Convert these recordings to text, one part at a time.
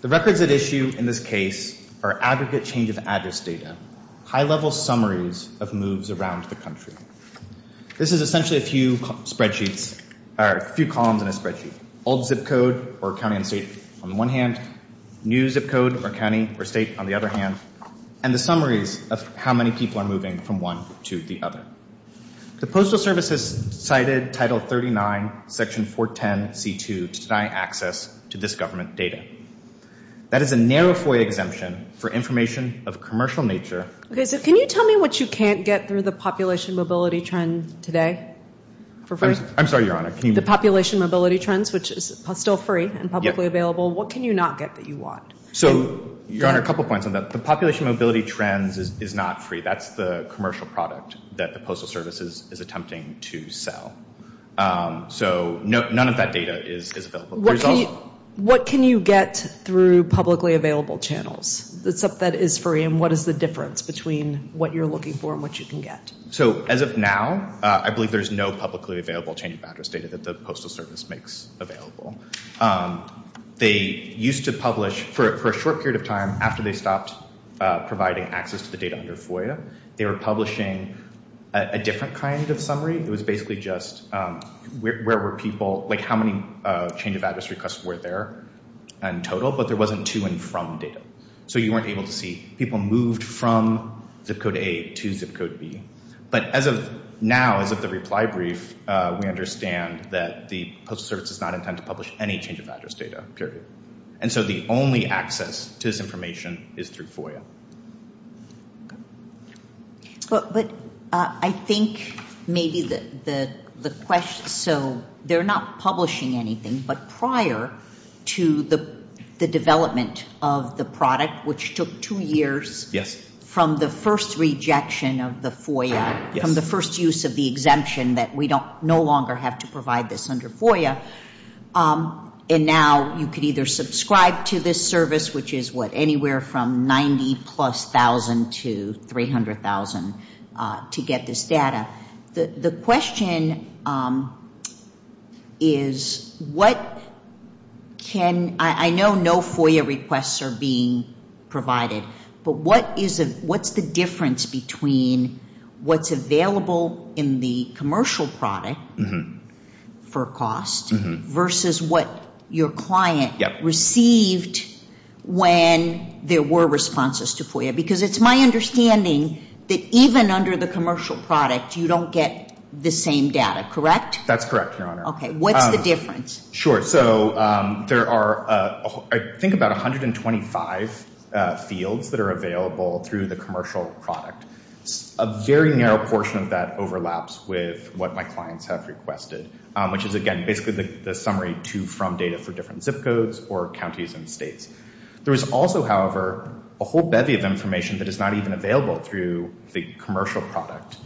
The records at issue in this case are aggregate change of address data, high-level summaries of moves around the country. This is essentially a few columns in a spreadsheet, old zip code or county and state on the one hand, new zip code or county or state on the other hand, and the summaries of how many people are moving from one to the other. The Postal Service has cited Title 39, Section 410C2 to deny access to this government data. That is a narrow FOIA exemption for information of commercial nature. Okay, so can you tell me what you can't get through the population mobility trend today? I'm sorry, Your Honor. The population mobility trends, which is still free and publicly available. What can you not get that you want? So Your Honor, a couple points on that. The population mobility trends is not free. That's the commercial product that the Postal Service is attempting to sell. So none of that data is available. What can you get through publicly available channels? The stuff that is free, and what is the difference between what you're looking for and what you can get? So as of now, I believe there's no publicly available change of address data that the Postal Service makes available. They used to publish for a short period of time after they stopped providing access to data under FOIA. They were publishing a different kind of summary. It was basically just where were people, like how many change of address requests were there in total, but there wasn't to and from data. So you weren't able to see people moved from ZIP Code A to ZIP Code B. But as of now, as of the reply brief, we understand that the Postal Service does not intend to publish any change of address data, period. And so the only access to this information is through FOIA. But I think maybe the question, so they're not publishing anything, but prior to the development of the product, which took two years from the first rejection of the FOIA, from the first use of the exemption that we no longer have to provide this under FOIA, and now you could either subscribe to this service, which is what, anywhere from 90 plus thousand to 300,000 to get this data. The question is what can, I know no FOIA requests are being provided, but what's the versus what your client received when there were responses to FOIA? Because it's my understanding that even under the commercial product, you don't get the same data, correct? That's correct, Your Honor. Okay. What's the difference? Sure. So there are, I think about 125 fields that are available through the commercial product. A very narrow portion of that overlaps with what my clients have requested, which is again, the summary to from data for different zip codes or counties and states. There is also, however, a whole bevy of information that is not even available through the commercial product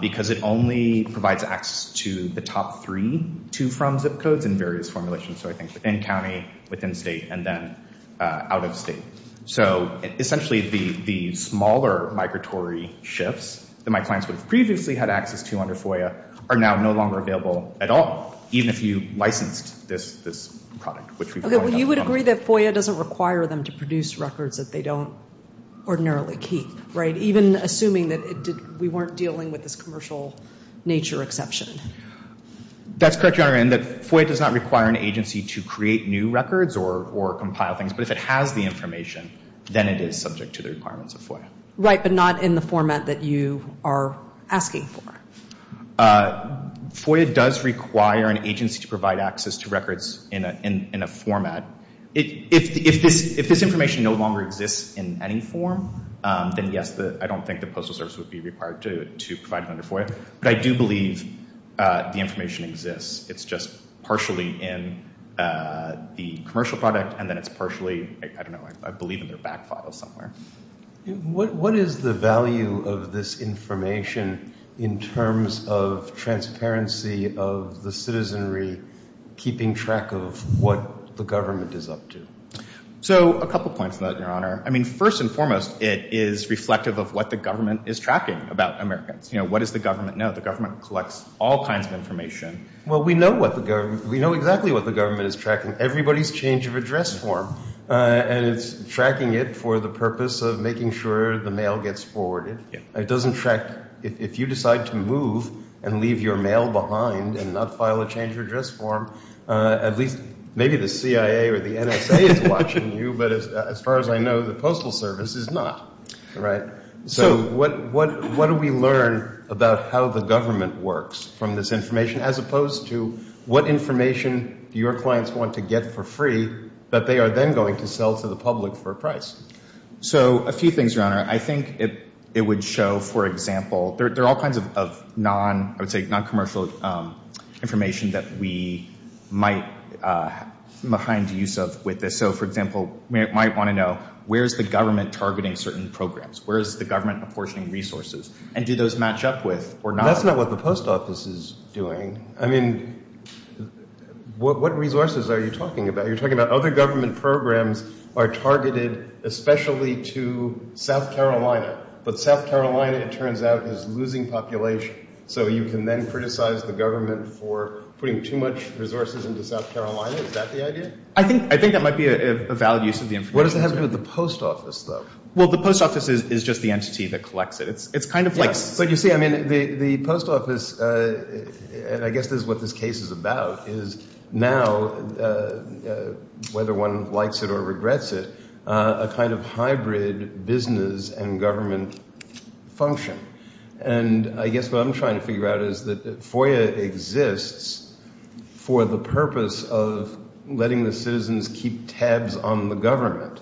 because it only provides access to the top three to from zip codes in various formulations. So I think within county, within state, and then out of state. So essentially the smaller migratory shifts that my clients would have previously had access to under FOIA are now no longer available at all. Even if you licensed this product. Okay, well you would agree that FOIA doesn't require them to produce records that they don't ordinarily keep, right? Even assuming that we weren't dealing with this commercial nature exception. That's correct, Your Honor. And that FOIA does not require an agency to create new records or compile things. But if it has the information, then it is subject to the requirements of FOIA. Right, but not in the format that you are asking for. FOIA does require an agency to provide access to records in a format. If this information no longer exists in any form, then yes, I don't think the Postal Service would be required to provide it under FOIA. But I do believe the information exists. It's just partially in the commercial product and then it's partially, I don't know, I believe in their back file somewhere. What is the value of this information in terms of transparency of the citizenry keeping track of what the government is up to? So a couple points on that, Your Honor. I mean, first and foremost, it is reflective of what the government is tracking about Americans. You know, what does the government know? The government collects all kinds of information. Well, we know exactly what the government is tracking. Everybody's change of address form. And it's tracking it for the purpose of making sure the mail gets forwarded. It doesn't track, if you decide to move and leave your mail behind and not file a change of address form, at least maybe the CIA or the NSA is watching you. But as far as I know, the Postal Service is not. Right. So what do we learn about how the government works from this information as opposed to what information your clients want to get for free that they are then going to sell to the public for a price? So a few things, Your Honor. I think it would show, for example, there are all kinds of non-commercial information that we might find use of with this. So, for example, we might want to know where's the government targeting certain programs? Where's the government apportioning resources? And do those match up with or not? That's not what the Post Office is doing. I mean, what resources are you talking about? You're talking about other government programs are targeted especially to South Carolina. But South Carolina, it turns out, is losing population. So you can then criticize the government for putting too much resources into South Carolina. Is that the idea? I think that might be a valid use of the information. What does it have to do with the Post Office, though? Well, the Post Office is just the entity that collects it. It's kind of like... You see, I mean, the Post Office, and I guess this is what this case is about, is now, whether one likes it or regrets it, a kind of hybrid business and government function. And I guess what I'm trying to figure out is that FOIA exists for the purpose of letting the citizens keep tabs on the government.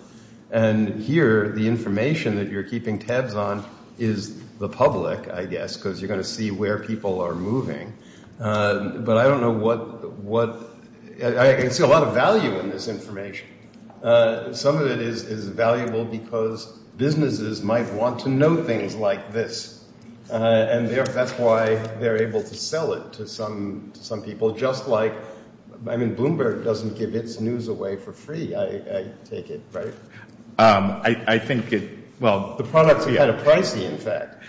And here, the information that you're keeping tabs on is the public. Because you're going to see where people are moving. But I don't know what... I can see a lot of value in this information. Some of it is valuable because businesses might want to know things like this. And that's why they're able to sell it to some people, just like... I mean, Bloomberg doesn't give its news away for free, I take it, right? I think it... Well, the products are kind of pricey, in fact.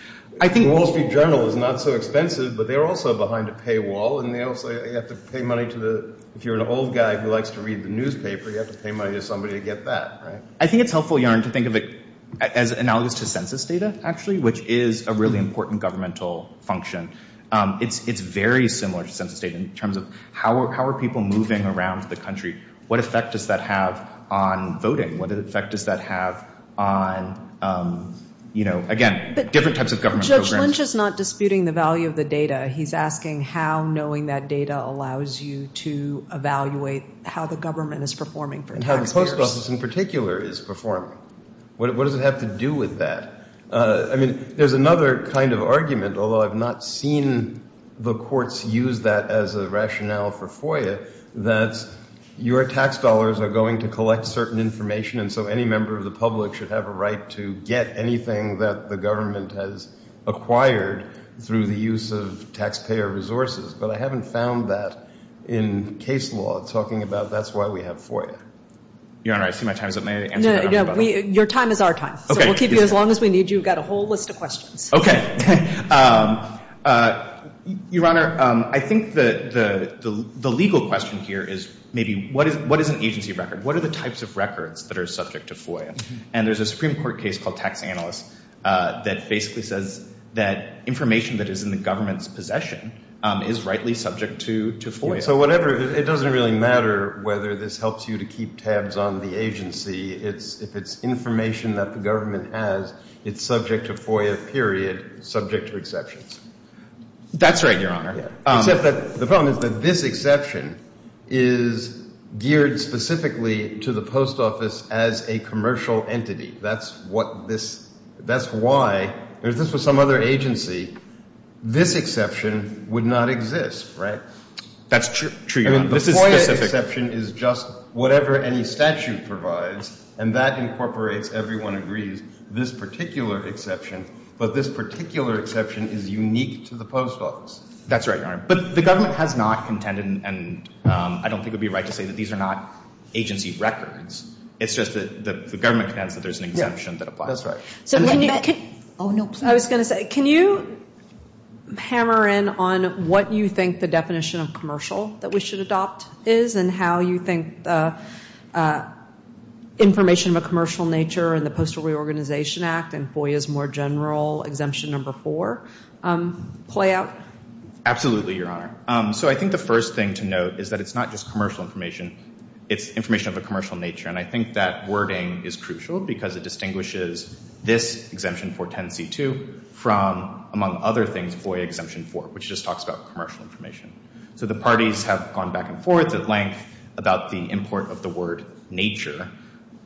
Wall Street Journal is not so expensive, but they're also behind a paywall. And they also have to pay money to the... If you're an old guy who likes to read the newspaper, you have to pay money to somebody to get that, right? I think it's helpful, Yaron, to think of it as analogous to census data, actually, which is a really important governmental function. It's very similar to census data in terms of how are people moving around the country? What effect does that have on voting? What effect does that have on, again, different types of government programs? Judge Lynch is not disputing the value of the data. He's asking how knowing that data allows you to evaluate how the government is performing for taxpayers. And how the Post Office in particular is performing. What does it have to do with that? I mean, there's another kind of argument, although I've not seen the courts use that as a rationale for FOIA, that your tax dollars are going to collect certain information. And so any member of the public should have a right to get anything that the government has acquired through the use of taxpayer resources. But I haven't found that in case law. It's talking about that's why we have FOIA. Your Honor, I see my time is up. May I answer that? No, no. Your time is our time. So we'll keep you as long as we need you. We've got a whole list of questions. Okay. Your Honor, I think the legal question here is maybe what is an agency record? What are the types of records that are subject to FOIA? And there's a Supreme Court case called Tax Analysts that basically says that information that is in the government's possession is rightly subject to FOIA. So whatever, it doesn't really matter whether this helps you to keep tabs on the agency. If it's information that the government has, it's subject to FOIA, period. Subject to exceptions. That's right, Your Honor. Except that the problem is that this exception is geared specifically to the post office as a commercial entity. That's what this, that's why, if this was some other agency, this exception would not exist, right? That's true, Your Honor. The FOIA exception is just whatever any statute provides and that incorporates, everyone agrees, this particular exception. But this particular exception is unique to the post office. That's right, Your Honor. But the government has not contended, and I don't think it would be right to say that these are not agency records. It's just that the government contends that there's an exception that applies. That's right. So when you, oh no, please. I was going to say, can you hammer in on what you think the definition of commercial that we should adopt is and how you think the information of a commercial nature and the Reorganization Act and FOIA's more general exemption number four play out? Absolutely, Your Honor. So I think the first thing to note is that it's not just commercial information, it's information of a commercial nature. And I think that wording is crucial because it distinguishes this exemption 410c2 from, among other things, FOIA exemption 4, which just talks about commercial information. So the parties have gone back and forth at length about the import of the word nature.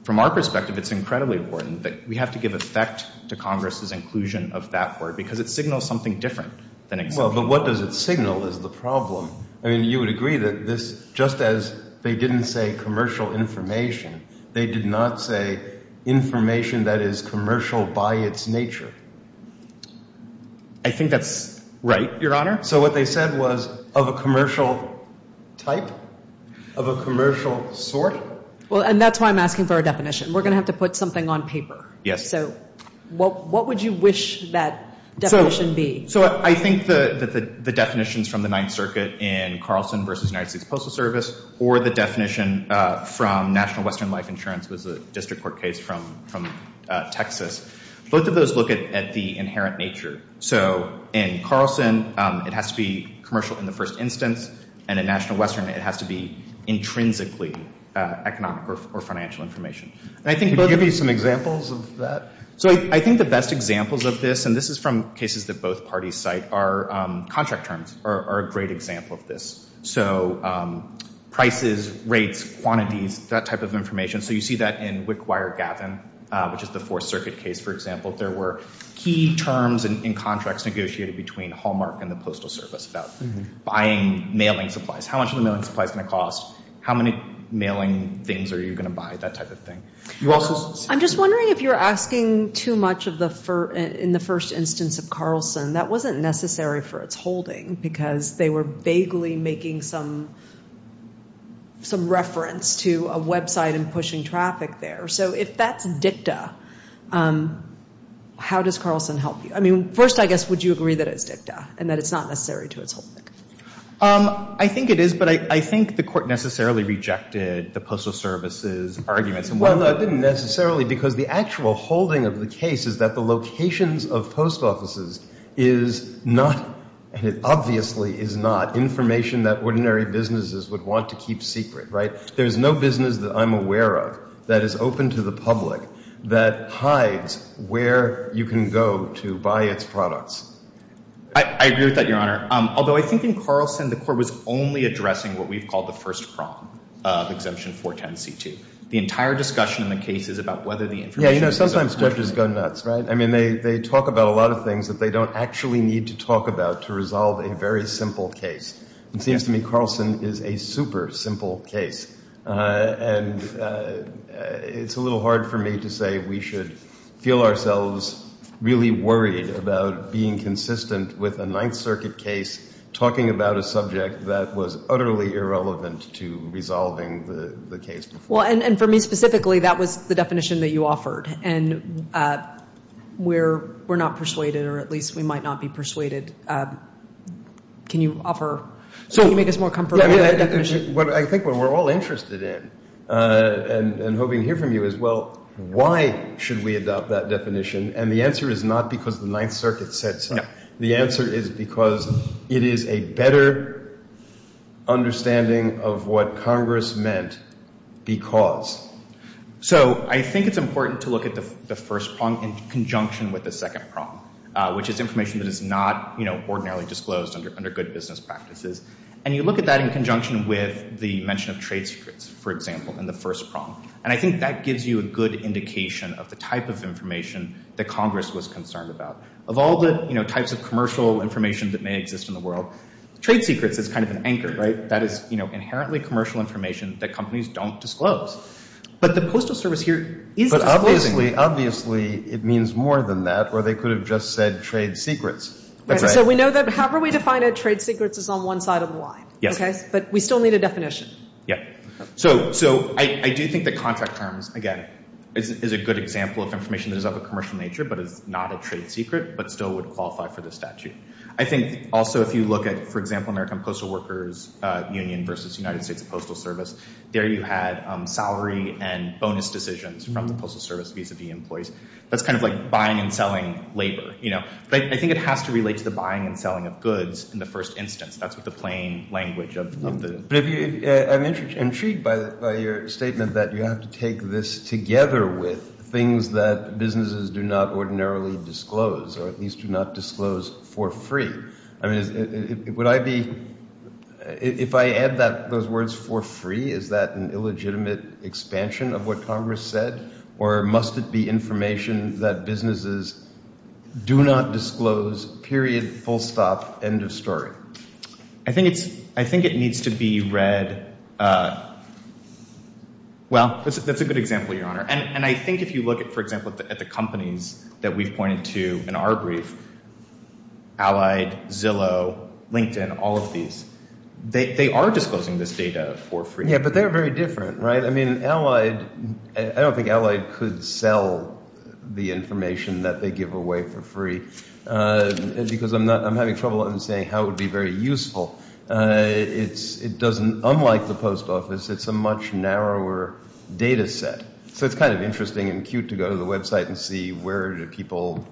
From our perspective, it's incredibly important that we have to give effect to Congress's inclusion of that word because it signals something different than exemption 4. Well, but what does it signal is the problem. I mean, you would agree that this, just as they didn't say commercial information, they did not say information that is commercial by its nature. I think that's right, Your Honor. So what they said was of a commercial type, of a commercial sort. Well, and that's why I'm asking for a definition. We're going to have to put something on paper. Yes. So what would you wish that definition be? So I think that the definitions from the Ninth Circuit in Carlson v. United States Postal Service or the definition from National Western Life Insurance was a district court case from Texas. Both of those look at the inherent nature. So in Carlson, it has to be commercial in the first instance. And in National Western, it has to be intrinsically economic or financial information. And I think both of them. Can you give me some examples of that? So I think the best examples of this, and this is from cases that both parties cite, are contract terms are a great example of this. So prices, rates, quantities, that type of information. So you see that in Wickwire-Gavin, which is the Fourth Circuit case, for example. There were key terms in contracts negotiated between Hallmark and the Postal Service about buying mailing supplies. How much are the mailing supplies going to cost? How many mailing things are you going to buy? That type of thing. I'm just wondering if you're asking too much in the first instance of Carlson. That wasn't necessary for its holding because they were vaguely making some reference to a website and pushing traffic there. So if that's dicta, how does Carlson help you? I mean, first, I guess, would you agree that it's dicta and that it's not necessary to its holding? I think it is, but I think the Court necessarily rejected the Postal Service's arguments. Well, it didn't necessarily because the actual holding of the case is that the locations of post offices is not, and it obviously is not, information that ordinary businesses would want to keep secret, right? There's no business that I'm aware of that is open to the public that hides where you can go to buy its products. I agree with that, Your Honor. Although I think in Carlson, the Court was only addressing what we've called the first prong of Exemption 410c2. The entire discussion in the case is about whether the information is open to the public. Yeah, you know, sometimes judges go nuts, right? I mean, they talk about a lot of things that they don't actually need to talk about to resolve a very simple case. It seems to me Carlson is a super simple case. And it's a little hard for me to say we should feel ourselves really worried about being consistent with a Ninth Circuit case talking about a subject that was utterly irrelevant to resolving the case before. Well, and for me specifically, that was the definition that you offered. And we're not persuaded, or at least we might not be persuaded. Can you offer, can you make us more comfortable with the definition? What I think we're all interested in and hoping to hear from you is, well, why should we adopt that definition? And the answer is not because the Ninth Circuit said so. The answer is because it is a better understanding of what Congress meant because. So I think it's important to look at the first prong in conjunction with the second prong, which is information that is not, you know, ordinarily disclosed under good business practices. And you look at that in conjunction with the mention of trade secrets, for example, in the first prong. And I think that gives you a good indication of the type of information that Congress was concerned about. Of all the, you know, types of commercial information that may exist in the world, trade secrets is kind of an anchor, right? That is, you know, inherently commercial information that companies don't disclose. But the Postal Service here is disclosing. Obviously, it means more than that, or they could have just said trade secrets. Right, so we know that however we define it, trade secrets is on one side of the line. Yes. But we still need a definition. Yeah, so I do think that contract terms, again, is a good example of information that is of a commercial nature, but is not a trade secret, but still would qualify for the statute. I think also if you look at, for example, American Postal Workers Union versus United States Postal Service, there you had salary and bonus decisions from the Postal Service vis-a-vis employees. That's kind of like buying and selling labor, you know? But I think it has to relate to the buying and selling of goods in the first instance. That's what the plain language of the— I'm intrigued by your statement that you have to take this together with things that businesses do not ordinarily disclose, or at least do not disclose for free. I mean, would I be—if I add those words for free, is that an illegitimate expansion of what Congress said, or must it be information that businesses do not disclose, period, full stop, end of story? I think it needs to be read—well, that's a good example, Your Honor. And I think if you look, for example, at the companies that we've pointed to in our brief, Allied, Zillow, LinkedIn, all of these, they are disclosing this data for free. Yeah, but they're very different, right? I mean, Allied—I don't think Allied could sell the information that they give away for free, because I'm having trouble understanding how it would be very useful. It doesn't—unlike the post office, it's a much narrower data set. So it's kind of interesting and cute to go to the website and see where do people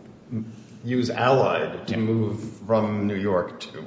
use Allied to move from New York to.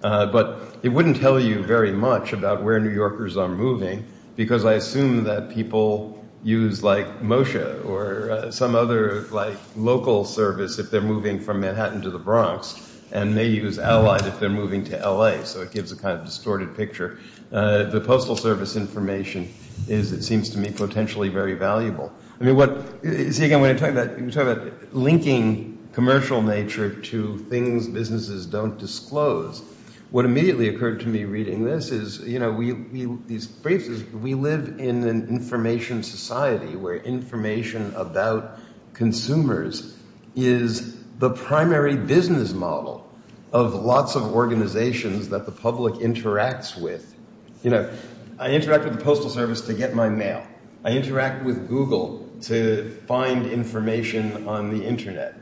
But it wouldn't tell you very much about where New Yorkers are moving, because I assume that people use, like, Moshe or some other, like, local service if they're moving from Manhattan to the Bronx, and they use Allied if they're moving to L.A. So it gives a kind of distorted picture. The postal service information is, it seems to me, potentially very valuable. I mean, what—see, again, when you're talking about linking commercial nature to things businesses don't disclose, what immediately occurred to me reading this is, you know, we—these briefs—we live in an information society where information about consumers is the primary business model of lots of organizations that the public interacts with. You know, I interact with the postal service to get my mail. I interact with Google to find information on the internet.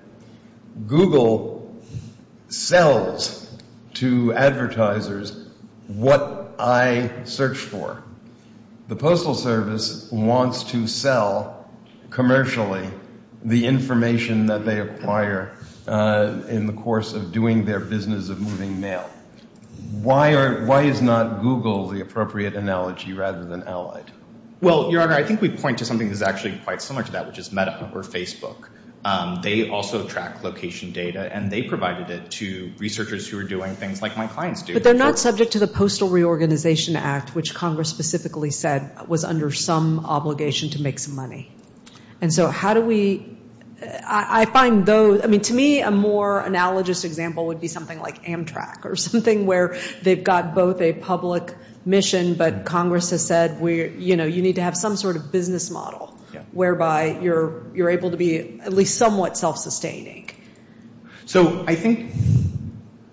Google sells to advertisers what I search for. The postal service wants to sell commercially the information that they acquire in the course of doing their business of moving mail. Why are—why is not Google the appropriate analogy rather than Allied? Well, Your Honor, I think we point to something that's actually quite similar to that, which is Meta or Facebook. They also track location data, and they provided it to researchers who are doing things like my clients do. But they're not subject to the Postal Reorganization Act, which Congress specifically said was under some obligation to make some money. And so how do we—I find those— I mean, to me, a more analogous example would be something like Amtrak or something where they've got both a public mission, but Congress has said, you know, you need to have some sort of business model whereby you're able to be at least somewhat self-sustaining. So I think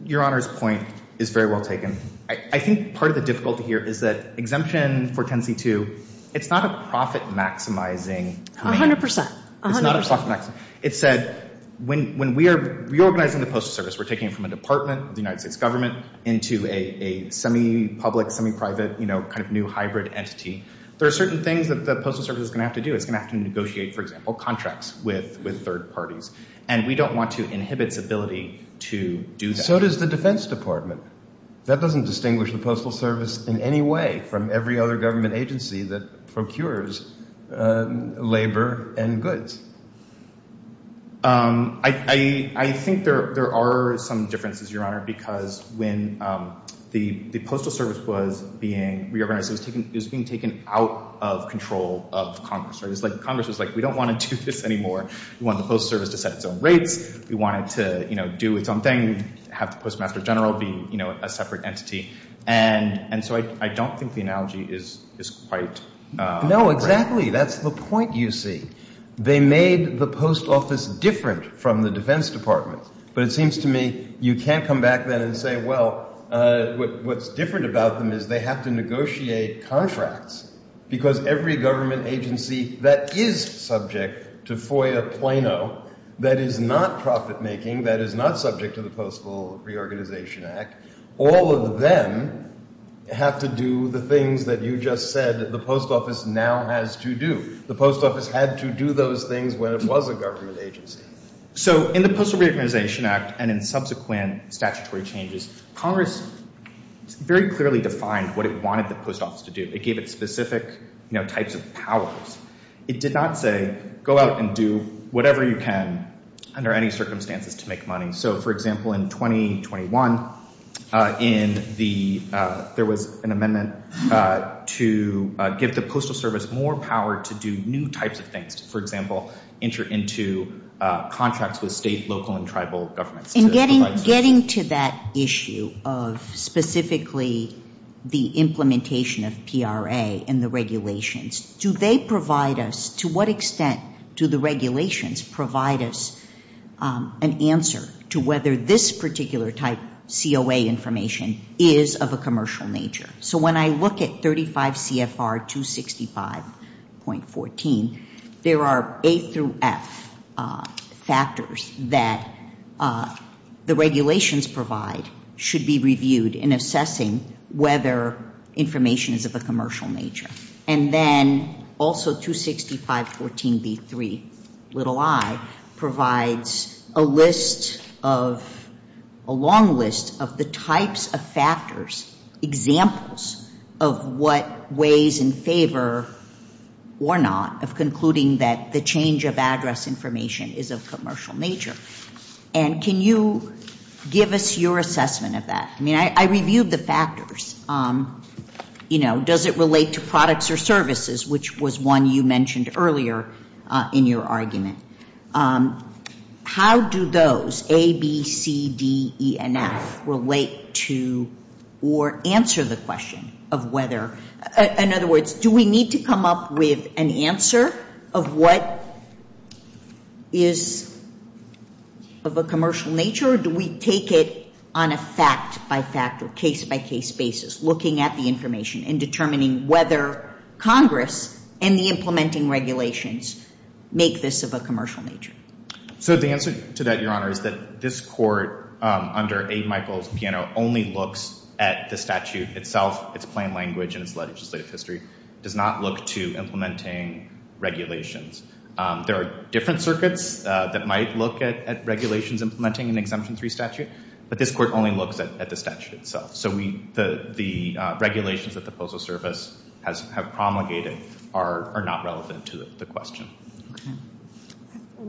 Your Honor's point is very well taken. I think part of the difficulty here is that exemption for 10c2, it's not a profit-maximizing— A hundred percent. It's not a profit-maximizing. It's a—when we are reorganizing the postal service, we're taking it from a department of the United States government into a semi-public, semi-private, you know, kind of new hybrid entity. There are certain things that the postal service is going to have to do. It's going to have to negotiate, for example, contracts with third parties. And we don't want to inhibit its ability to do that. So does the Defense Department. That doesn't distinguish the postal service in any way from every other government agency that procures labor and goods. I think there are some differences, Your Honor, because when the postal service was being reorganized, it was being taken out of control of Congress, right? It's like Congress was like, we don't want to do this anymore. We want the postal service to set its own rates. We want it to, you know, do its own thing, have the Postmaster General be, you know, a separate entity. And so I don't think the analogy is quite right. No, exactly. That's the point you see. They made the post office different from the Defense Department. But it seems to me you can't come back then and say, well, what's different about them is they have to negotiate contracts because every government agency that is subject to FOIA Plano, that is not profit making, that is not subject to the Postal Reorganization Act, all of them have to do the things that you just said the post office now has to do. The post office had to do those things when it was a government agency. So in the Postal Reorganization Act and in subsequent statutory changes, Congress very clearly defined what it wanted the post office to do. It gave it specific, you know, types of powers. It did not say go out and do whatever you can under any circumstances to make money. So for example, in 2021, in the, there was an amendment to give the Postal Service more power to do new types of things, for example, enter into contracts with state, local and tribal governments. And getting to that issue of specifically the implementation of PRA and the regulations, do they provide us, to what extent do the regulations provide us an answer to whether this particular type COA information is of a commercial nature? So when I look at 35 CFR 265.14, there are A through F factors that the regulations provide should be reviewed in assessing whether information is of a commercial nature. And then also 265.14B3, little I, provides a list of, a long list of the types of factors, examples of what weighs in favor or not of concluding that the change of address information is of commercial nature. And can you give us your assessment of that? I mean, I reviewed the factors. You know, does it relate to products or services, which was one you mentioned earlier in your argument. How do those, A, B, C, D, E, and F, relate to or answer the question of whether, in other words, do we need to come up with an answer of what is of a commercial nature or do we take it on a fact-by-fact or case-by-case basis, looking at the information and determining whether Congress and the implementing regulations make this of a commercial nature? So the answer to that, Your Honor, is that this Court, under A. Michael Piano, only looks at the statute itself, its plain language and its legislative history. Does not look to implementing regulations. There are different circuits that might look at regulations implementing an Exemption 3 statute, but this Court only looks at the statute itself. So the regulations that the Postal Service has promulgated are not relevant to the question.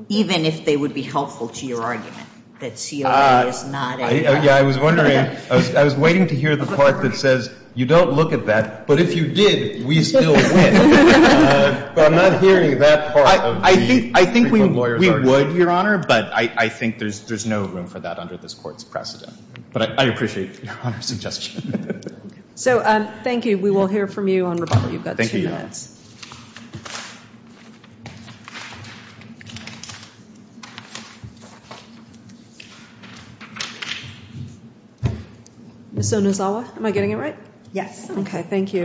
Even if they would be helpful to your argument, that COA is not a... Yeah, I was wondering, I was waiting to hear the part that says, you don't look at that, but if you did, we still win. But I'm not hearing that part of the Supreme Court lawyer's argument. I think we would, Your Honor, but I think there's no room for that under this Court's precedent. But I appreciate Your Honor's suggestion. So thank you. We will hear from you on rebuttal. You've got two minutes. Ms. Onizawa, am I getting it right? Yes. Okay, thank you.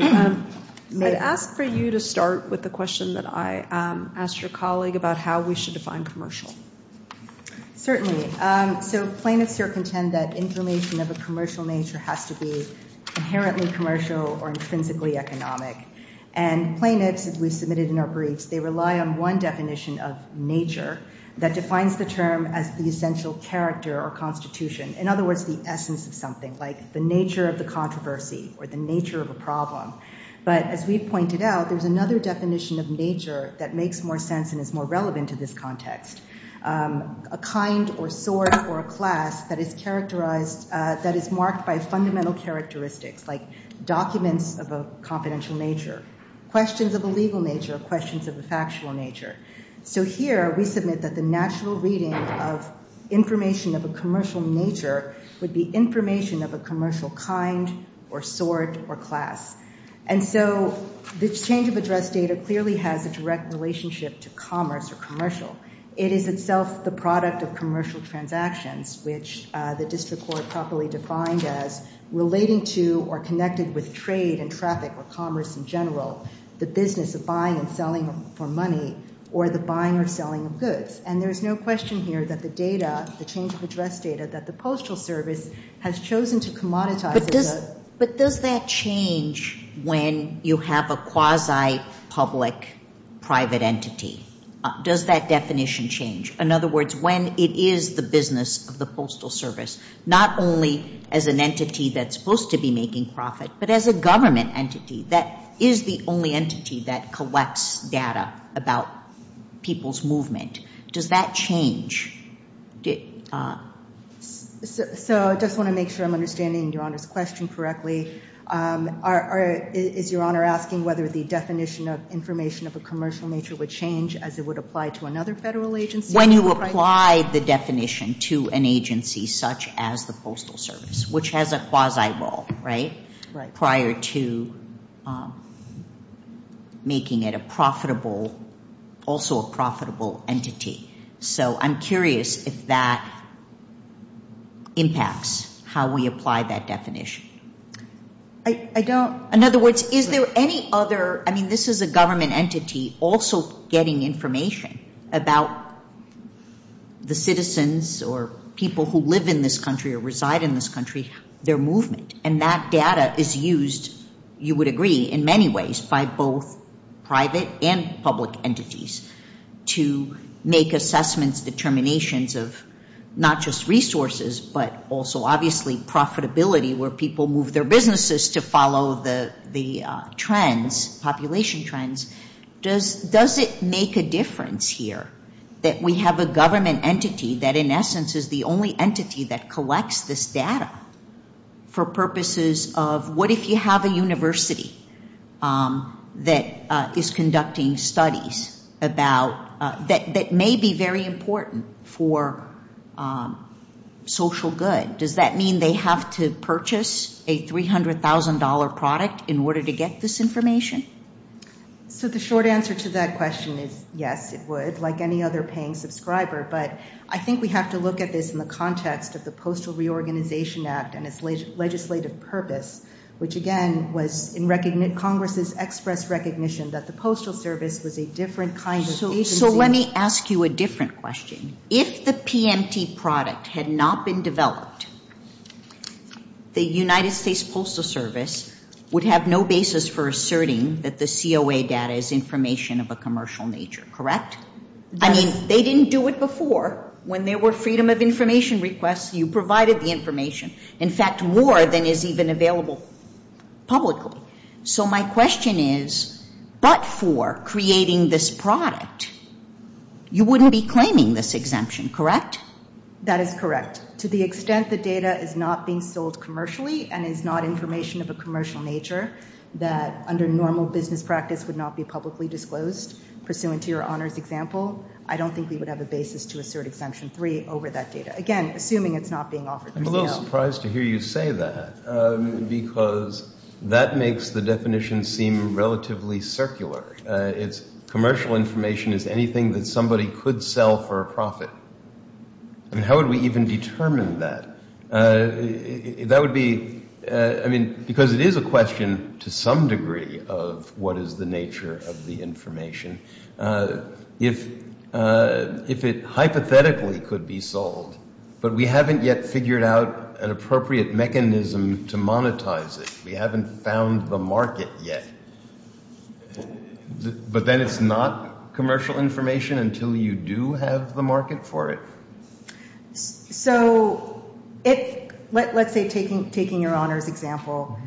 May I ask for you to start with the question that I asked your colleague about how we should define commercial? Certainly. So plaintiffs here contend that information of a commercial nature has to be inherently commercial or intrinsically economic. And plaintiffs, as we submitted in our briefs, they rely on one definition of nature that defines the term as the essential character or constitution. In other words, the essence of something, like the nature of the controversy or the but as we pointed out, there's another definition of nature that makes more sense and is more relevant to this context. A kind or sort or a class that is characterized, that is marked by fundamental characteristics, like documents of a confidential nature, questions of a legal nature, questions of a factual nature. So here we submit that the natural reading of information of a commercial nature would be information of a commercial kind or sort or class. And so the change of address data clearly has a direct relationship to commerce or commercial. It is itself the product of commercial transactions, which the district court properly defined as relating to or connected with trade and traffic or commerce in general, the business of buying and selling for money or the buying or selling of goods. And there is no question here that the data, the change of address data that the Postal Service has chosen to commoditize. But does that change when you have a quasi-public private entity? Does that definition change? In other words, when it is the business of the Postal Service, not only as an entity that's supposed to be making profit, but as a government entity that is the only entity that collects data about people's movement, does that change? So I just want to make sure I'm understanding Your Honor's question correctly. Is Your Honor asking whether the definition of information of a commercial nature would change as it would apply to another federal agency? When you apply the definition to an agency such as the Postal Service, which has a quasi role, right, prior to making it a profitable, also a profitable entity. So I'm curious if that impacts how we apply that definition. I don't... In other words, is there any other... I mean, this is a government entity also getting information about the citizens or people who live in this country or reside in this country, their movement. And that data is used, you would agree, in many ways by both private and public entities to make assessments, determinations of not just resources, but also obviously profitability where people move their businesses to follow the trends, population trends. Does it make a difference here that we have a government entity that in essence is the only entity that collects this data for purposes of what if you have a university that is conducting studies that may be very important for social good? Does that mean they have to purchase a $300,000 product in order to get this information? So the short answer to that question is yes, it would, like any other paying subscriber. But I think we have to look at this in the context of the Postal Reorganization Act and its legislative purpose, which again was in Congress's express recognition that the Postal Service was a different kind of agency. So let me ask you a different question. If the PMT product had not been developed, the United States Postal Service would have no basis for asserting that the COA data is information of a commercial nature, correct? I mean, they didn't do it before. When there were freedom of information requests, you provided the information. In fact, more than is even available publicly. So my question is, but for creating this product, you wouldn't be claiming this exemption, correct? That is correct. To the extent the data is not being sold commercially and is not information of a commercial nature that under normal business practice would not be publicly disclosed pursuant to your honors example, I don't think we would have a basis to assert Exemption 3 over that data. Again, assuming it's not being offered. I'm a little surprised to hear you say that because that makes the definition seem relatively circular. It's commercial information is anything that somebody could sell for a profit. How would we even determine that? That would be, I mean, because it is a question to some degree of what is the nature of the an appropriate mechanism to monetize it. We haven't found the market yet. But then it's not commercial information until you do have the market for it. So let's say taking your honors example,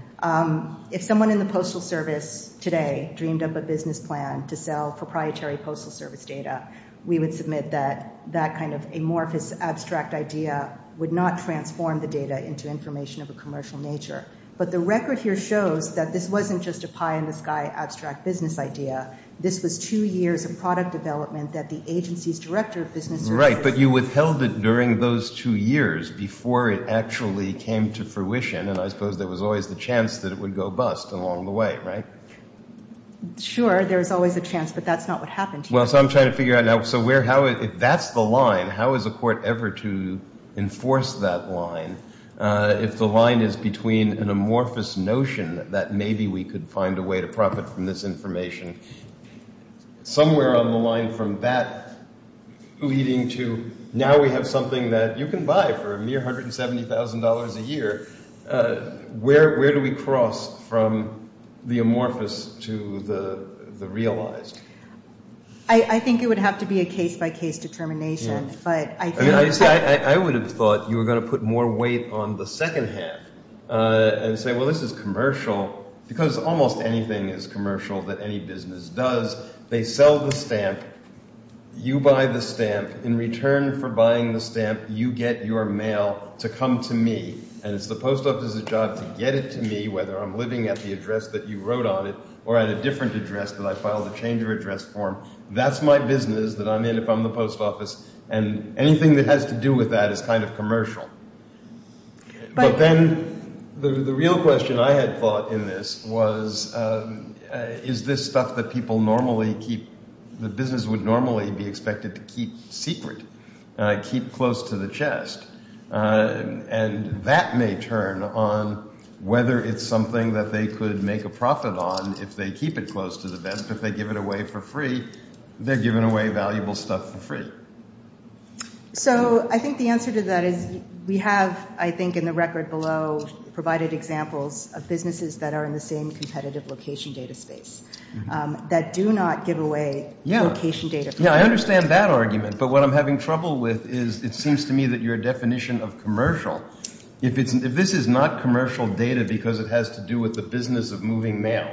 if someone in the Postal Service today dreamed up a business plan to sell proprietary Postal Service data, we would submit that that kind of amorphous abstract idea would not transform the data into information of a commercial nature. But the record here shows that this wasn't just a pie in the sky abstract business idea. This was two years of product development that the agency's director of business services Right, but you withheld it during those two years before it actually came to fruition. And I suppose there was always the chance that it would go bust along the way, right? Sure, there's always a chance, but that's not what happened. Well, so I'm trying to figure out now. So if that's the line, how is a court ever to enforce that line? If the line is between an amorphous notion that maybe we could find a way to profit from this information, somewhere on the line from that leading to now we have something that you can buy for a mere $170,000 a year, where do we cross from the amorphous to the realized? I think it would have to be a case by case determination. But I would have thought you were going to put more weight on the second half and say, well, this is commercial because almost anything is commercial that any business does. They sell the stamp. You buy the stamp. In return for buying the stamp, you get your mail to come to me. And it's the post office's job to get it to me, whether I'm living at the address that you wrote on it or at a different address that I filed a change of address form. That's my business that I'm in if I'm the post office. And anything that has to do with that is kind of commercial. But then the real question I had thought in this was, is this stuff that people normally keep, the business would normally be expected to keep secret, keep close to the chest? And that may turn on whether it's something that they could make a profit on if they keep it close to the vest. If they give it away for free, they're giving away valuable stuff for free. So I think the answer to that is we have, I think, in the record below, provided examples of businesses that are in the same competitive location data space that do not give away location data. Yeah, I understand that argument. But what I'm having trouble with is it seems to me that your definition of commercial, if this is not commercial data because it has to do with the business of moving mail,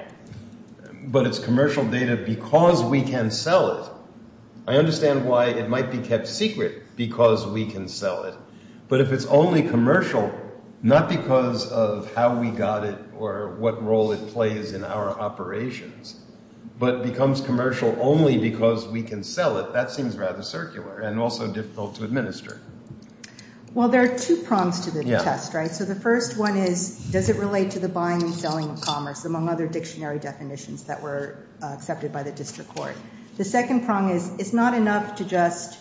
but it's commercial data because we can sell it, I understand why it might be kept secret because we can sell it. But if it's only commercial, not because of how we got it or what role it plays in our and also difficult to administer. Well, there are two prongs to the test, right? So the first one is, does it relate to the buying and selling of commerce, among other dictionary definitions that were accepted by the district court? The second prong is, it's not enough to just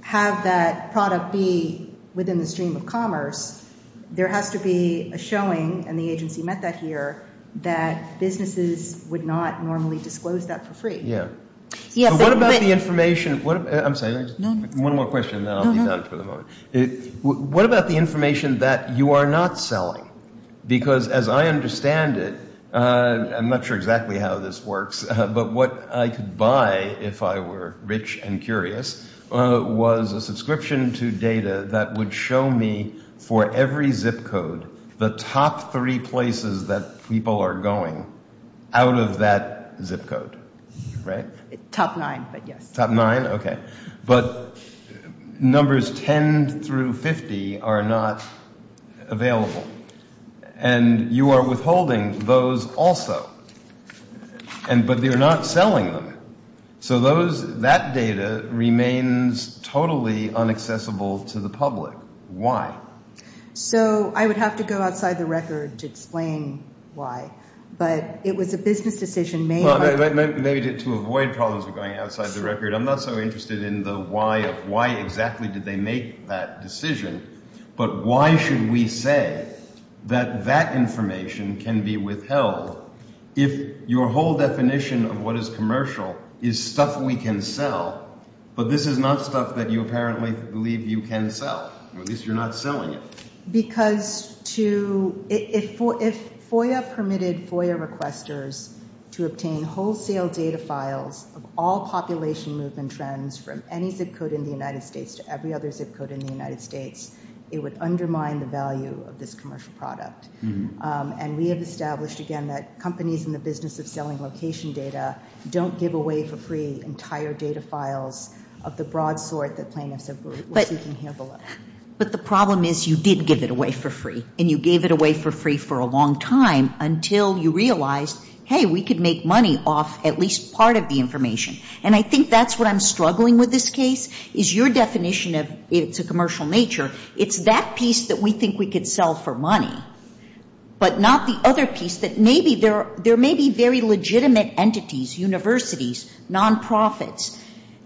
have that product be within the stream of commerce. There has to be a showing, and the agency met that here, that businesses would not normally disclose that for free. So what about the information that you are not selling? Because as I understand it, I'm not sure exactly how this works, but what I could buy if I were rich and curious was a subscription to data that would show me for every zip code the top three places that people are going out of that zip code. Top nine, but yes. Top nine, okay. But numbers 10 through 50 are not available, and you are withholding those also, but you are not selling them. So that data remains totally unaccessible to the public. Why? So I would have to go outside the record to explain why, but it was a business decision made by- Maybe to avoid problems with going outside the record, I'm not so interested in the why of why exactly did they make that decision, but why should we say that that information can be withheld if your whole definition of what is commercial is stuff we can sell, but this is not stuff that you apparently believe you can sell, or at least you're not selling it. Because if FOIA permitted FOIA requesters to obtain wholesale data files of all population movement trends from any zip code in the United States to every other zip code in the United States, it would undermine the value of this commercial product, and we have established again that companies in the business of selling location data don't give away for free entire data files of the broad sort that plaintiffs were seeking here below. But the problem is you did give it away for free, and you gave it away for free for a long time until you realized, hey, we could make money off at least part of the information. And I think that's what I'm struggling with this case, is your definition of it's a commercial nature, it's that piece that we think we could sell for money, but not the other piece that maybe there may be very legitimate entities, universities, non-profits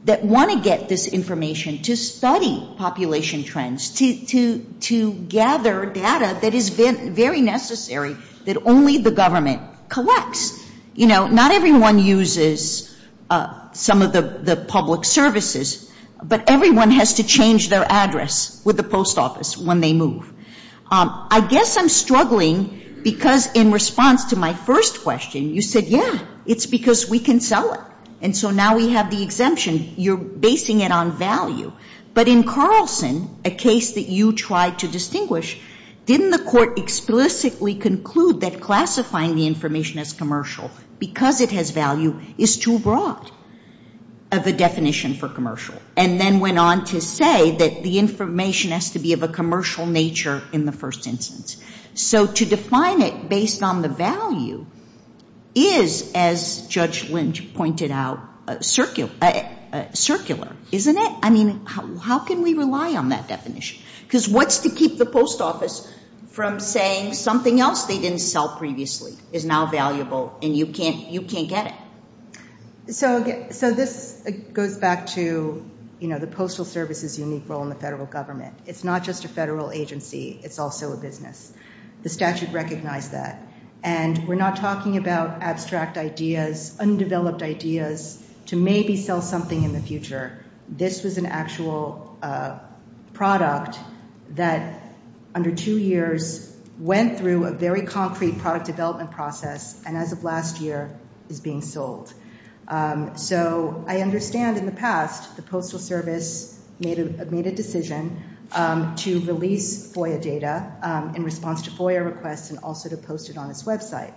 that want to get this information to study population trends, to gather data that is very necessary that only the government collects. You know, not everyone uses some of the public services, but everyone has to change their address with the post office when they move. I guess I'm struggling because in response to my first question, you said, yeah, it's because we can sell it. And so now we have the exemption. You're basing it on value. But in Carlson, a case that you tried to distinguish, didn't the court explicitly conclude that classifying the information as commercial because it has value is too broad of a definition for commercial, and then went on to say that the information has to be of a commercial nature in the first instance. So to define it based on the value is, as Judge Lynch pointed out, circular, isn't it? I mean, how can we rely on that definition? Because what's to keep the post office from saying something else they didn't sell previously is now valuable, and you can't get it? So this goes back to the Postal Service's unique role in the federal government. It's not just a federal agency. It's also a business. The statute recognized that. And we're not talking about abstract ideas, undeveloped ideas to maybe sell something in the future. This was an actual product that under two years went through a very concrete product development process, and as of last year, is being sold. So I understand in the past, the Postal Service made a decision to release FOIA data in response to FOIA requests and also to post it on its website.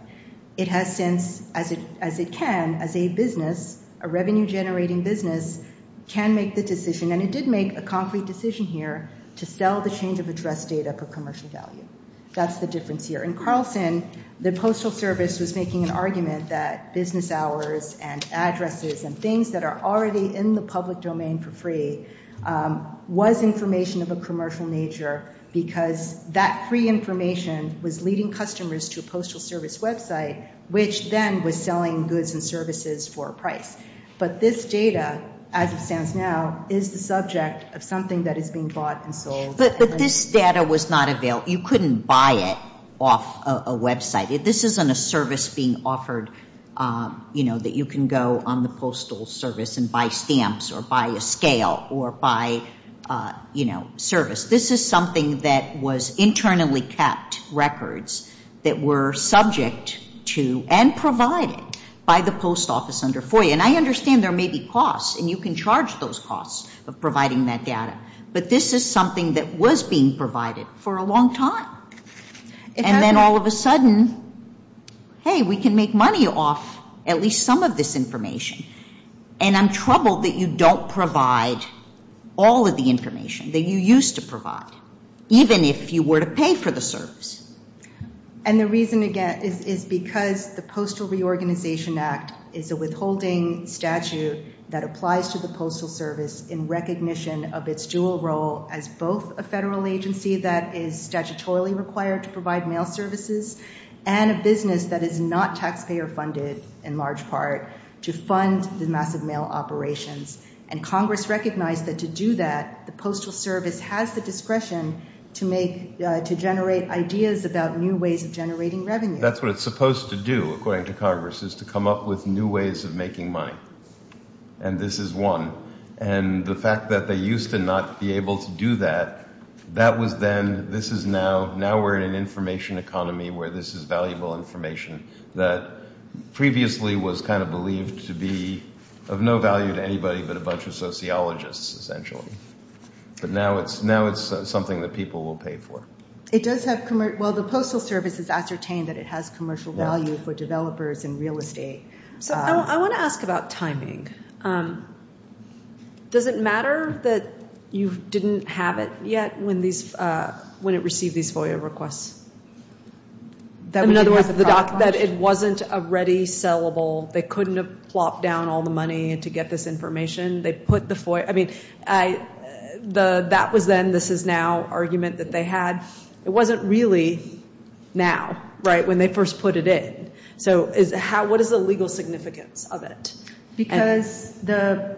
It has since, as it can, as a business, a revenue generating business, can make the decision, and it did make a concrete decision here to sell the change of address data for commercial value. That's the difference here. In Carlson, the Postal Service was making an argument that business hours and addresses and things that are already in the public domain for free was information of a commercial nature because that free information was leading customers to a Postal Service website, which then was selling goods and services for a price. But this data, as it stands now, is the subject of something that is being bought and sold. But this data was not available. You couldn't buy it off a website. This isn't a service being offered that you can go on the Postal Service and buy stamps or buy a scale or buy service. This is something that was internally kept records that were subject to and provided by the Post Office under FOIA. And I understand there may be costs, and you can charge those costs of providing that data. But this is something that was being provided for a long time. And then all of a sudden, hey, we can make money off at least some of this information. And I'm troubled that you don't provide all of the information that you used to provide, even if you were to pay for the service. And the reason, again, is because the Postal Reorganization Act is a withholding statute that applies to the Postal Service in recognition of its dual role as both a federal agency that is statutorily required to provide mail services and a business that is not taxpayer funded in large part to fund the massive mail operations. And Congress recognized that to do that, the Postal Service has the discretion to generate ideas about new ways of generating revenue. That's what it's supposed to do, according to Congress, is to come up with new ways of making money. And this is one. And the fact that they used to not be able to do that, that was then. This is now. Now we're in an information economy where this is valuable information that previously was kind of believed to be of no value to anybody but a bunch of sociologists, essentially. But now it's something that people will pay for. It does have, well, the Postal Service has ascertained that it has commercial value for developers and real estate. So I want to ask about timing. Does it matter that you didn't have it yet when it received these FOIA requests? In other words, that it wasn't already sellable? They couldn't have plopped down all the money to get this information? They put the FOIA, I mean, that was then, this is now argument that they had. It wasn't really now, right, when they first put it in. So what is the legal significance of it? Because the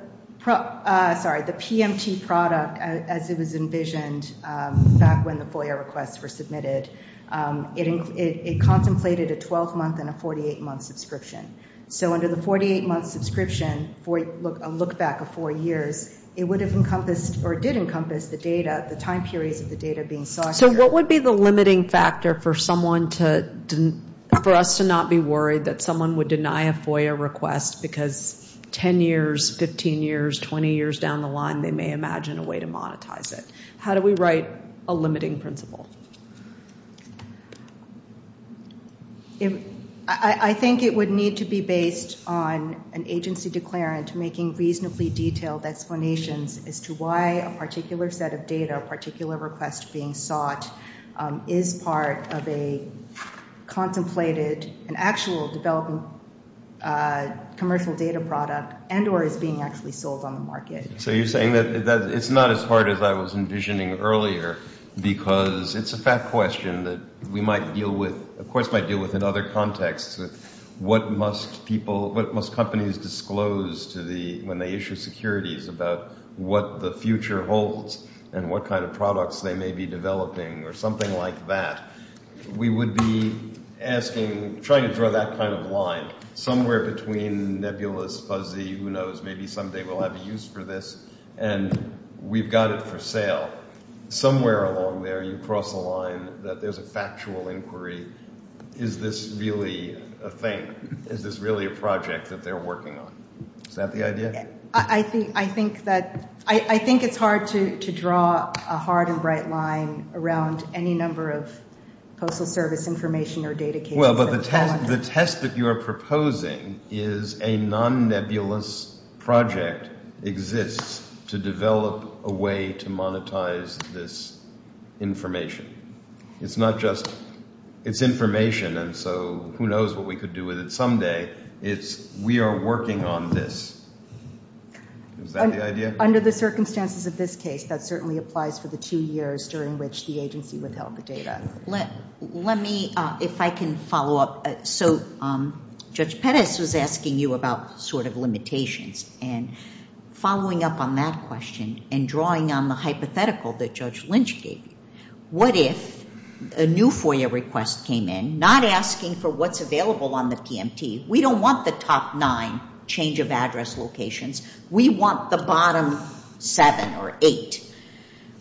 PMT product, as it was envisioned back when the FOIA requests were submitted, it contemplated a 12-month and a 48-month subscription. So under the 48-month subscription, a look back of four years, it would have encompassed or did encompass the data, the time periods of the data being sought. So what would be the limiting factor for someone to, for us to not be worried that someone would deny a FOIA request because 10 years, 15 years, 20 years down the line they may imagine a way to monetize it? How do we write a limiting principle? I think it would need to be based on an agency declarant making reasonably detailed explanations as to why a particular set of data, a particular request being sought is part of a contemplated, an actual developing commercial data product and or is being actually sold on the market. So you're saying that it's not as hard as I was envisioning earlier because it's a fact question that we might deal with, of course might deal with in other contexts with what must people, what must companies disclose to the, when they issue securities about what the future holds and what kind of products they may be developing or something like that. We would be asking, trying to draw that kind of line somewhere between nebulous, fuzzy, who knows maybe someday we'll have a use for this and we've got it for sale. Somewhere along there you cross a line that there's a factual inquiry. Is this really a thing? Is this really a project that they're working on? Is that the idea? I think that, I think it's hard to draw a hard and bright line around any number of postal service information or data cases. Well, but the test that you're proposing is a non-nebulous project exists to develop a way to monetize this information. It's not just, it's information and so who knows what we could do with it someday. It's we are working on this. Is that the idea? Under the circumstances of this case, that certainly applies for the two years during which the agency withheld the data. Let me, if I can follow up. So Judge Pettis was asking you about sort of limitations and following up on that question and drawing on the hypothetical that Judge Lynch gave you. What if a new FOIA request came in, not asking for what's available on the PMT, we don't want the top nine change of address locations, we want the bottom seven or eight.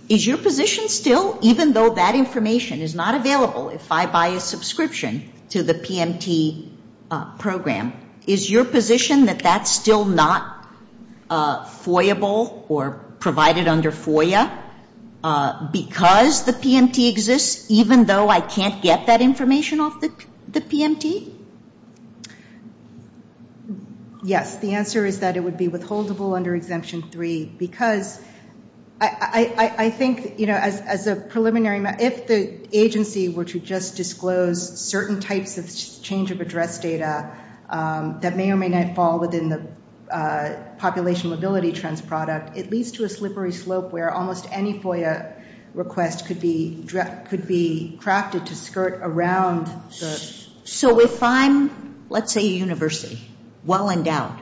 Is your position still, even though that information is not available, if I buy a subscription to the PMT program, is your position that that's still not FOIA-able or provided under FOIA because the PMT exists, even though I can't get that information off the PMT? Yes. The answer is that it would be withholdable under Exemption 3 because I think, you know, as a preliminary, if the agency were to just disclose certain types of change of address data that may or may not fall within the population mobility trends product, it leads to a slippery slope where almost any FOIA request could be crafted to skirt around the. So if I'm, let's say a university, well endowed,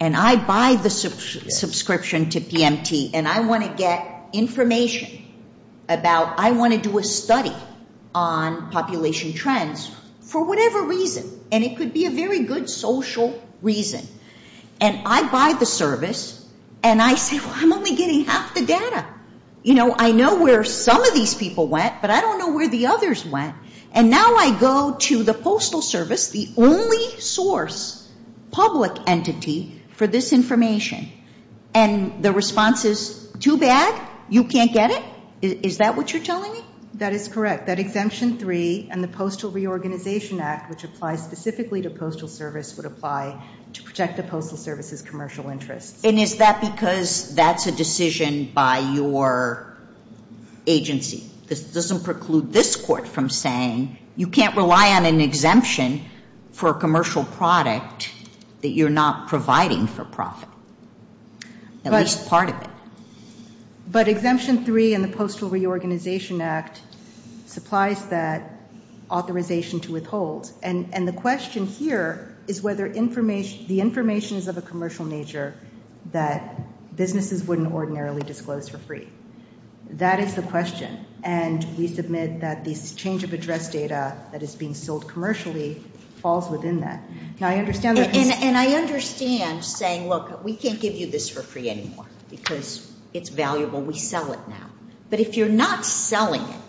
and I buy the subscription to PMT and I want to get information about, I want to do a study on population trends for whatever reason, and it could be a very good social reason, and I buy the service and I say, well, I'm only getting half the data. You know, I know where some of these people went, but I don't know where the others went. And now I go to the Postal Service, the only source, public entity for this information, and the response is too bad? You can't get it? Is that what you're telling me? That is correct. That Exemption 3 and the Postal Reorganization Act, which applies specifically to postal service, would apply to protect the postal service's commercial interests. And is that because that's a decision by your agency? This doesn't preclude this Court from saying you can't rely on an exemption for a commercial product that you're not providing for profit, at least part of it. But Exemption 3 and the Postal Reorganization Act supplies that authorization to withhold. And the question here is whether the information is of a commercial nature that businesses wouldn't ordinarily disclose for free. That is the question. And we submit that this change of address data that is being sold commercially falls within that. Now, I understand that this... And I understand saying, look, we can't give you this for free anymore because it's valuable, we sell it now. But if you're not selling it,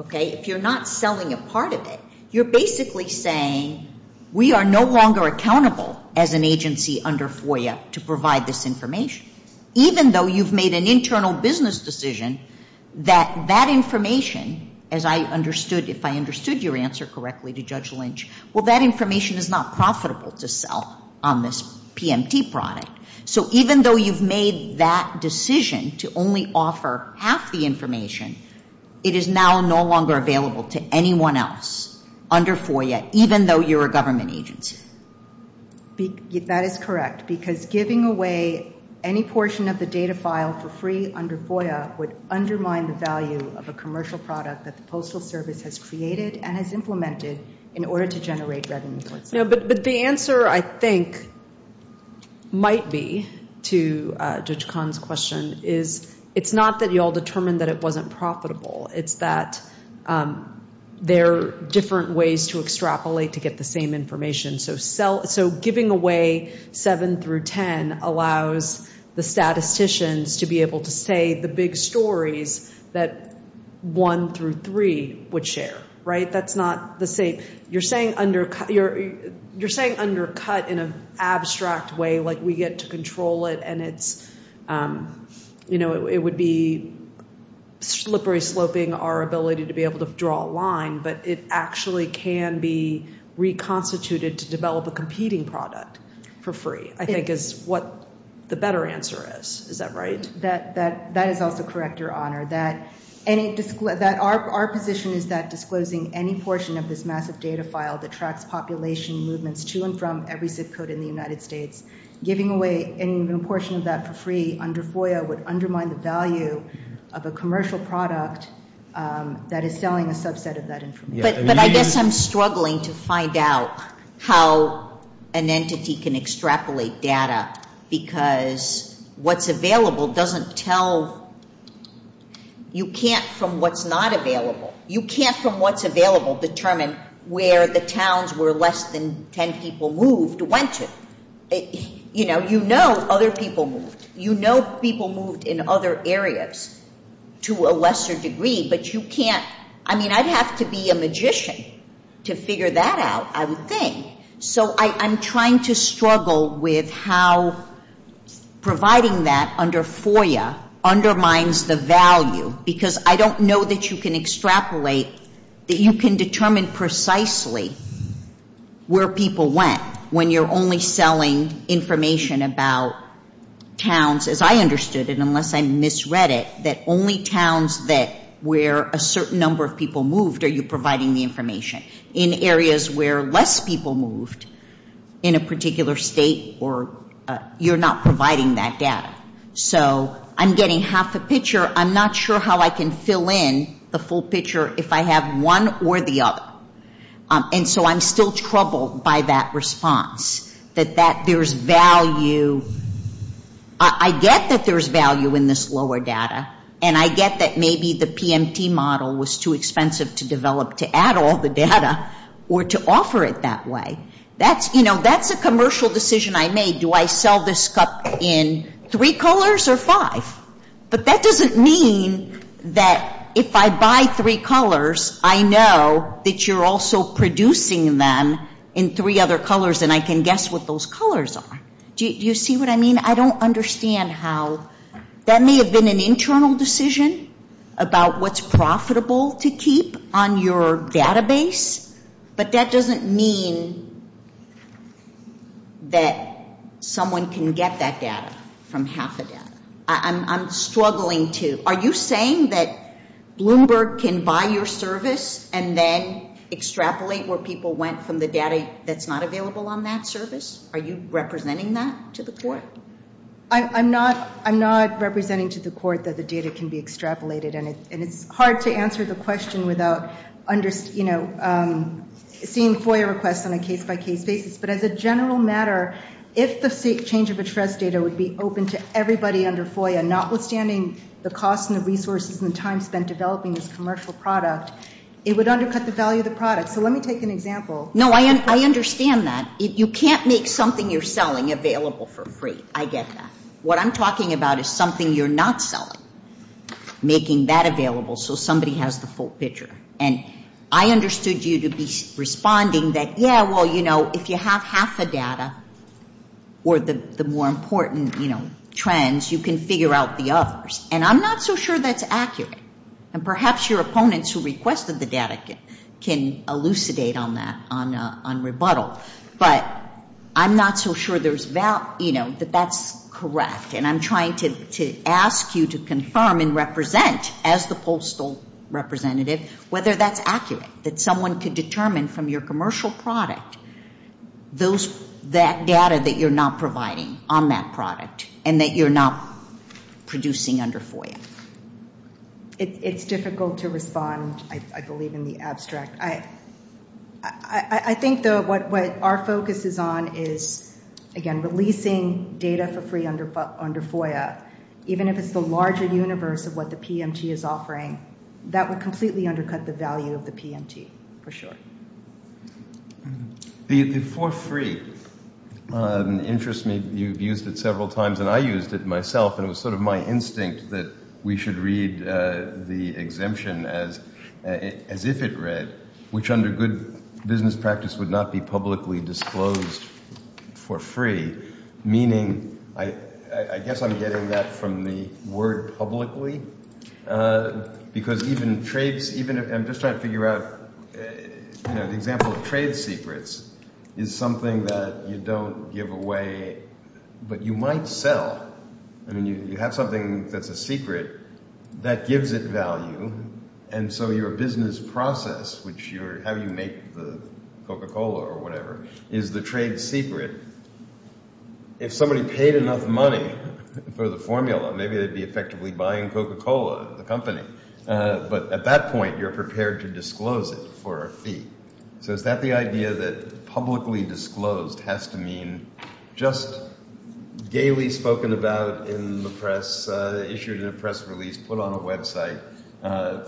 okay, if you're not selling a part of it, you're basically saying we are no longer accountable as an agency under FOIA to provide this information. Even though you've made an internal business decision that that information, as I understood, if I understood your answer correctly to Judge Lynch, well, that information is not profitable to sell on this PMT product. So even though you've made that decision to only offer half the information, it is now no longer available to anyone else under FOIA, even though you're a government agency. That is correct. Because giving away any portion of the data file for free under FOIA would undermine the value of a commercial product that the Postal Service has created and has implemented in order to generate revenue for itself. But the answer, I think, might be to Judge Kahn's question, is it's not that you all determined that it wasn't profitable. It's that there are different ways to extrapolate to get the same information. So giving away 7 through 10 allows the statisticians to be able to say the big stories that 1 through 3 would share, right? You're saying undercut in an abstract way like we get to control it and it would be slippery sloping our ability to be able to draw a line, but it actually can be reconstituted to develop a competing product for free, I think is what the better answer is. Is that right? That is also correct, Your Honor. Our position is that disclosing any portion of this massive data file that tracks population movements to and from every zip code in the United States, giving away any portion of that for free under FOIA would undermine the value of a commercial product that is selling a subset of that information. But I guess I'm struggling to find out how an entity can extrapolate data because what's available doesn't tell you can't from what's not available. You can't from what's available determine where the towns where less than 10 people moved went to. You know other people moved. You know people moved in other areas to a lesser degree, I mean I'd have to be a magician to figure that out, I would think. So I'm trying to struggle with how providing that under FOIA undermines the value because I don't know that you can extrapolate, that you can determine precisely where people went when you're only selling information about towns, as I understood it unless I misread it, that only towns where a certain number of people moved are you providing the information. In areas where less people moved in a particular state, you're not providing that data. So I'm getting half a picture, I'm not sure how I can fill in the full picture if I have one or the other. And so I'm still troubled by that response, that there's value, I get that there's value in this lower data and I get that maybe the PMT model was too expensive to develop to add all the data or to offer it that way. That's, you know, that's a commercial decision I made, do I sell this cup in three colors or five? But that doesn't mean that if I buy three colors, I know that you're also producing them in three other colors and I can guess what those colors are. Do you see what I mean? I don't understand how, that may have been an internal decision about what's profitable to keep on your database, but that doesn't mean that someone can get that data from half a data. I'm struggling to, are you saying that Bloomberg can buy your service and then extrapolate where people went from the data that's not available on that service? Are you representing that to the court? I'm not representing to the court that the data can be extrapolated and it's hard to answer the question without seeing FOIA requests on a case-by-case basis, but as a general matter, if the state change of interest data would be open to everybody under FOIA, notwithstanding the cost and the resources and the time spent developing this commercial product, it would undercut the value of the product. So let me take an example. No, I understand that. You can't make something you're selling available for free. I get that. What I'm talking about is something you're not selling, making that available so somebody has the full picture. And I understood you to be responding that, yeah, well, if you have half the data or the more important trends, you can figure out the others. And I'm not so sure that's accurate. And perhaps your opponents who requested the data can elucidate on that, on rebuttal. But I'm not so sure that that's correct. And I'm trying to ask you to confirm and represent as the postal representative whether that's accurate, that someone could determine from your commercial product that data that you're not providing on that product and that you're not producing under FOIA. It's difficult to respond, I believe, in the abstract. I think, though, what our focus is on is, again, releasing data for free under FOIA. Even if it's the larger universe of what the PMT is offering, that would completely undercut the value of the PMT, for sure. The for free interests me. You've used it several times, and I used it myself. And it was sort of my instinct that we should read the exemption as if it read. Which under good business practice would not be publicly disclosed for free. Meaning, I guess I'm getting that from the word publicly. Because even if I'm just trying to figure out, you know, the example of trade secrets is something that you don't give away, but you might sell. I mean, you have something that's a secret that gives it value. And so your business process, how you make the Coca-Cola or whatever, is the trade secret. If somebody paid enough money for the formula, maybe they'd be effectively buying Coca-Cola, the company. But at that point, you're prepared to disclose it for a fee. So is that the idea that publicly disclosed has to mean just gaily spoken about in the press, issued in a press release, put on a website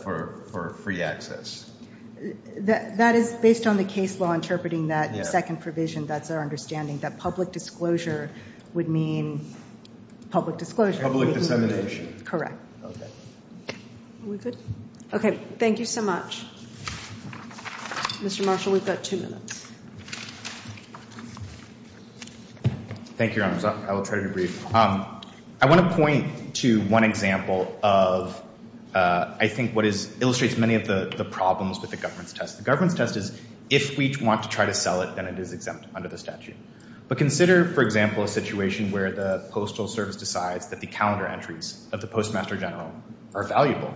for free access? That is based on the case law interpreting that second provision. That's our understanding, that public disclosure would mean public disclosure. Public dissemination. Correct. Okay. Are we good? Okay. Thank you so much. Mr. Marshall, we've got two minutes. Thank you, Your Honors. I will try to be brief. I want to point to one example of, I think what illustrates many of the problems with the government's test. The government's test is, if we want to try to sell it, then it is exempt under the statute. But consider, for example, a situation where the Postal Service decides that the calendar entries of the Postmaster General are valuable.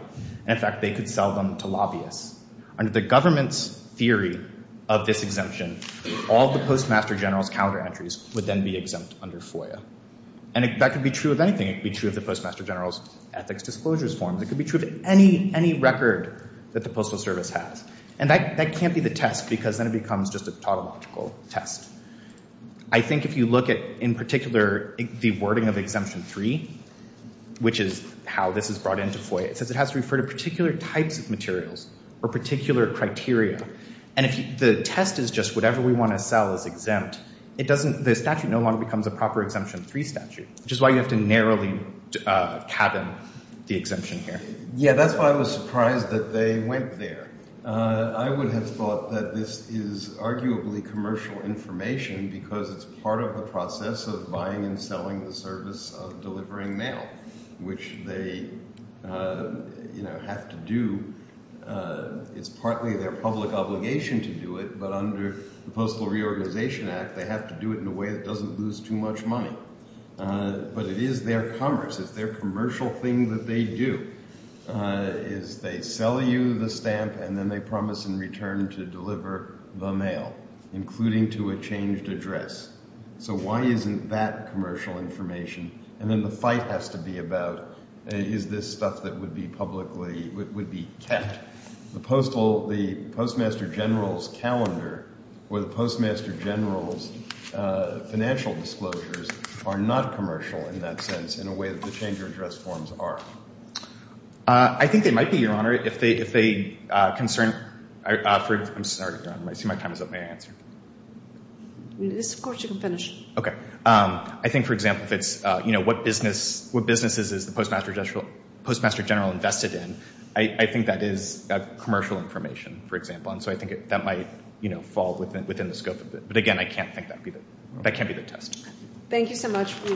And in fact, they could sell them to lobbyists. Under the government's theory of this exemption, all the Postmaster General's calendar entries would then be exempt under FOIA. And that could be true of anything. It could be true of the Postmaster General's ethics disclosures forms. It could be true of any record that the Postal Service has. And that can't be the test, because then it becomes just a tautological test. I think if you look at, in particular, the wording of Exemption 3, which is how this is brought into FOIA, it says it has to refer to particular types of materials or particular criteria. And if the test is just, whatever we want to sell is exempt, it doesn't, the statute no longer becomes a proper Exemption 3 statute, which is why you have to narrowly cabin the exemption here. Yeah, that's why I was surprised that they went there. I would have thought that this is arguably commercial information because it's part of the process of buying and selling the service of delivering mail, which they have to do. It's partly their public obligation to do it, but under the Postal Reorganization Act, they have to do it in a way that doesn't lose too much money. But it is their commerce. It's their commercial thing that they do. Is they sell you the stamp, and then they promise in return to deliver the mail, including to a changed address. So why isn't that commercial information? And then the fight has to be about, is this stuff that would be publicly, would be kept. The Postmaster General's calendar, or the Postmaster General's financial disclosures are not commercial in that sense, in a way that the change of address forms are. I think they might be, Your Honor. If they concern... I'm sorry, Your Honor. I see my time is up. May I answer? Yes, of course, you can finish. Okay. I think, for example, if it's what businesses is the Postmaster General invested in, I think that is commercial information, for example. And so I think that might fall within the scope of it. But again, I can't think that'd be the, that can't be the test. Thank you so much.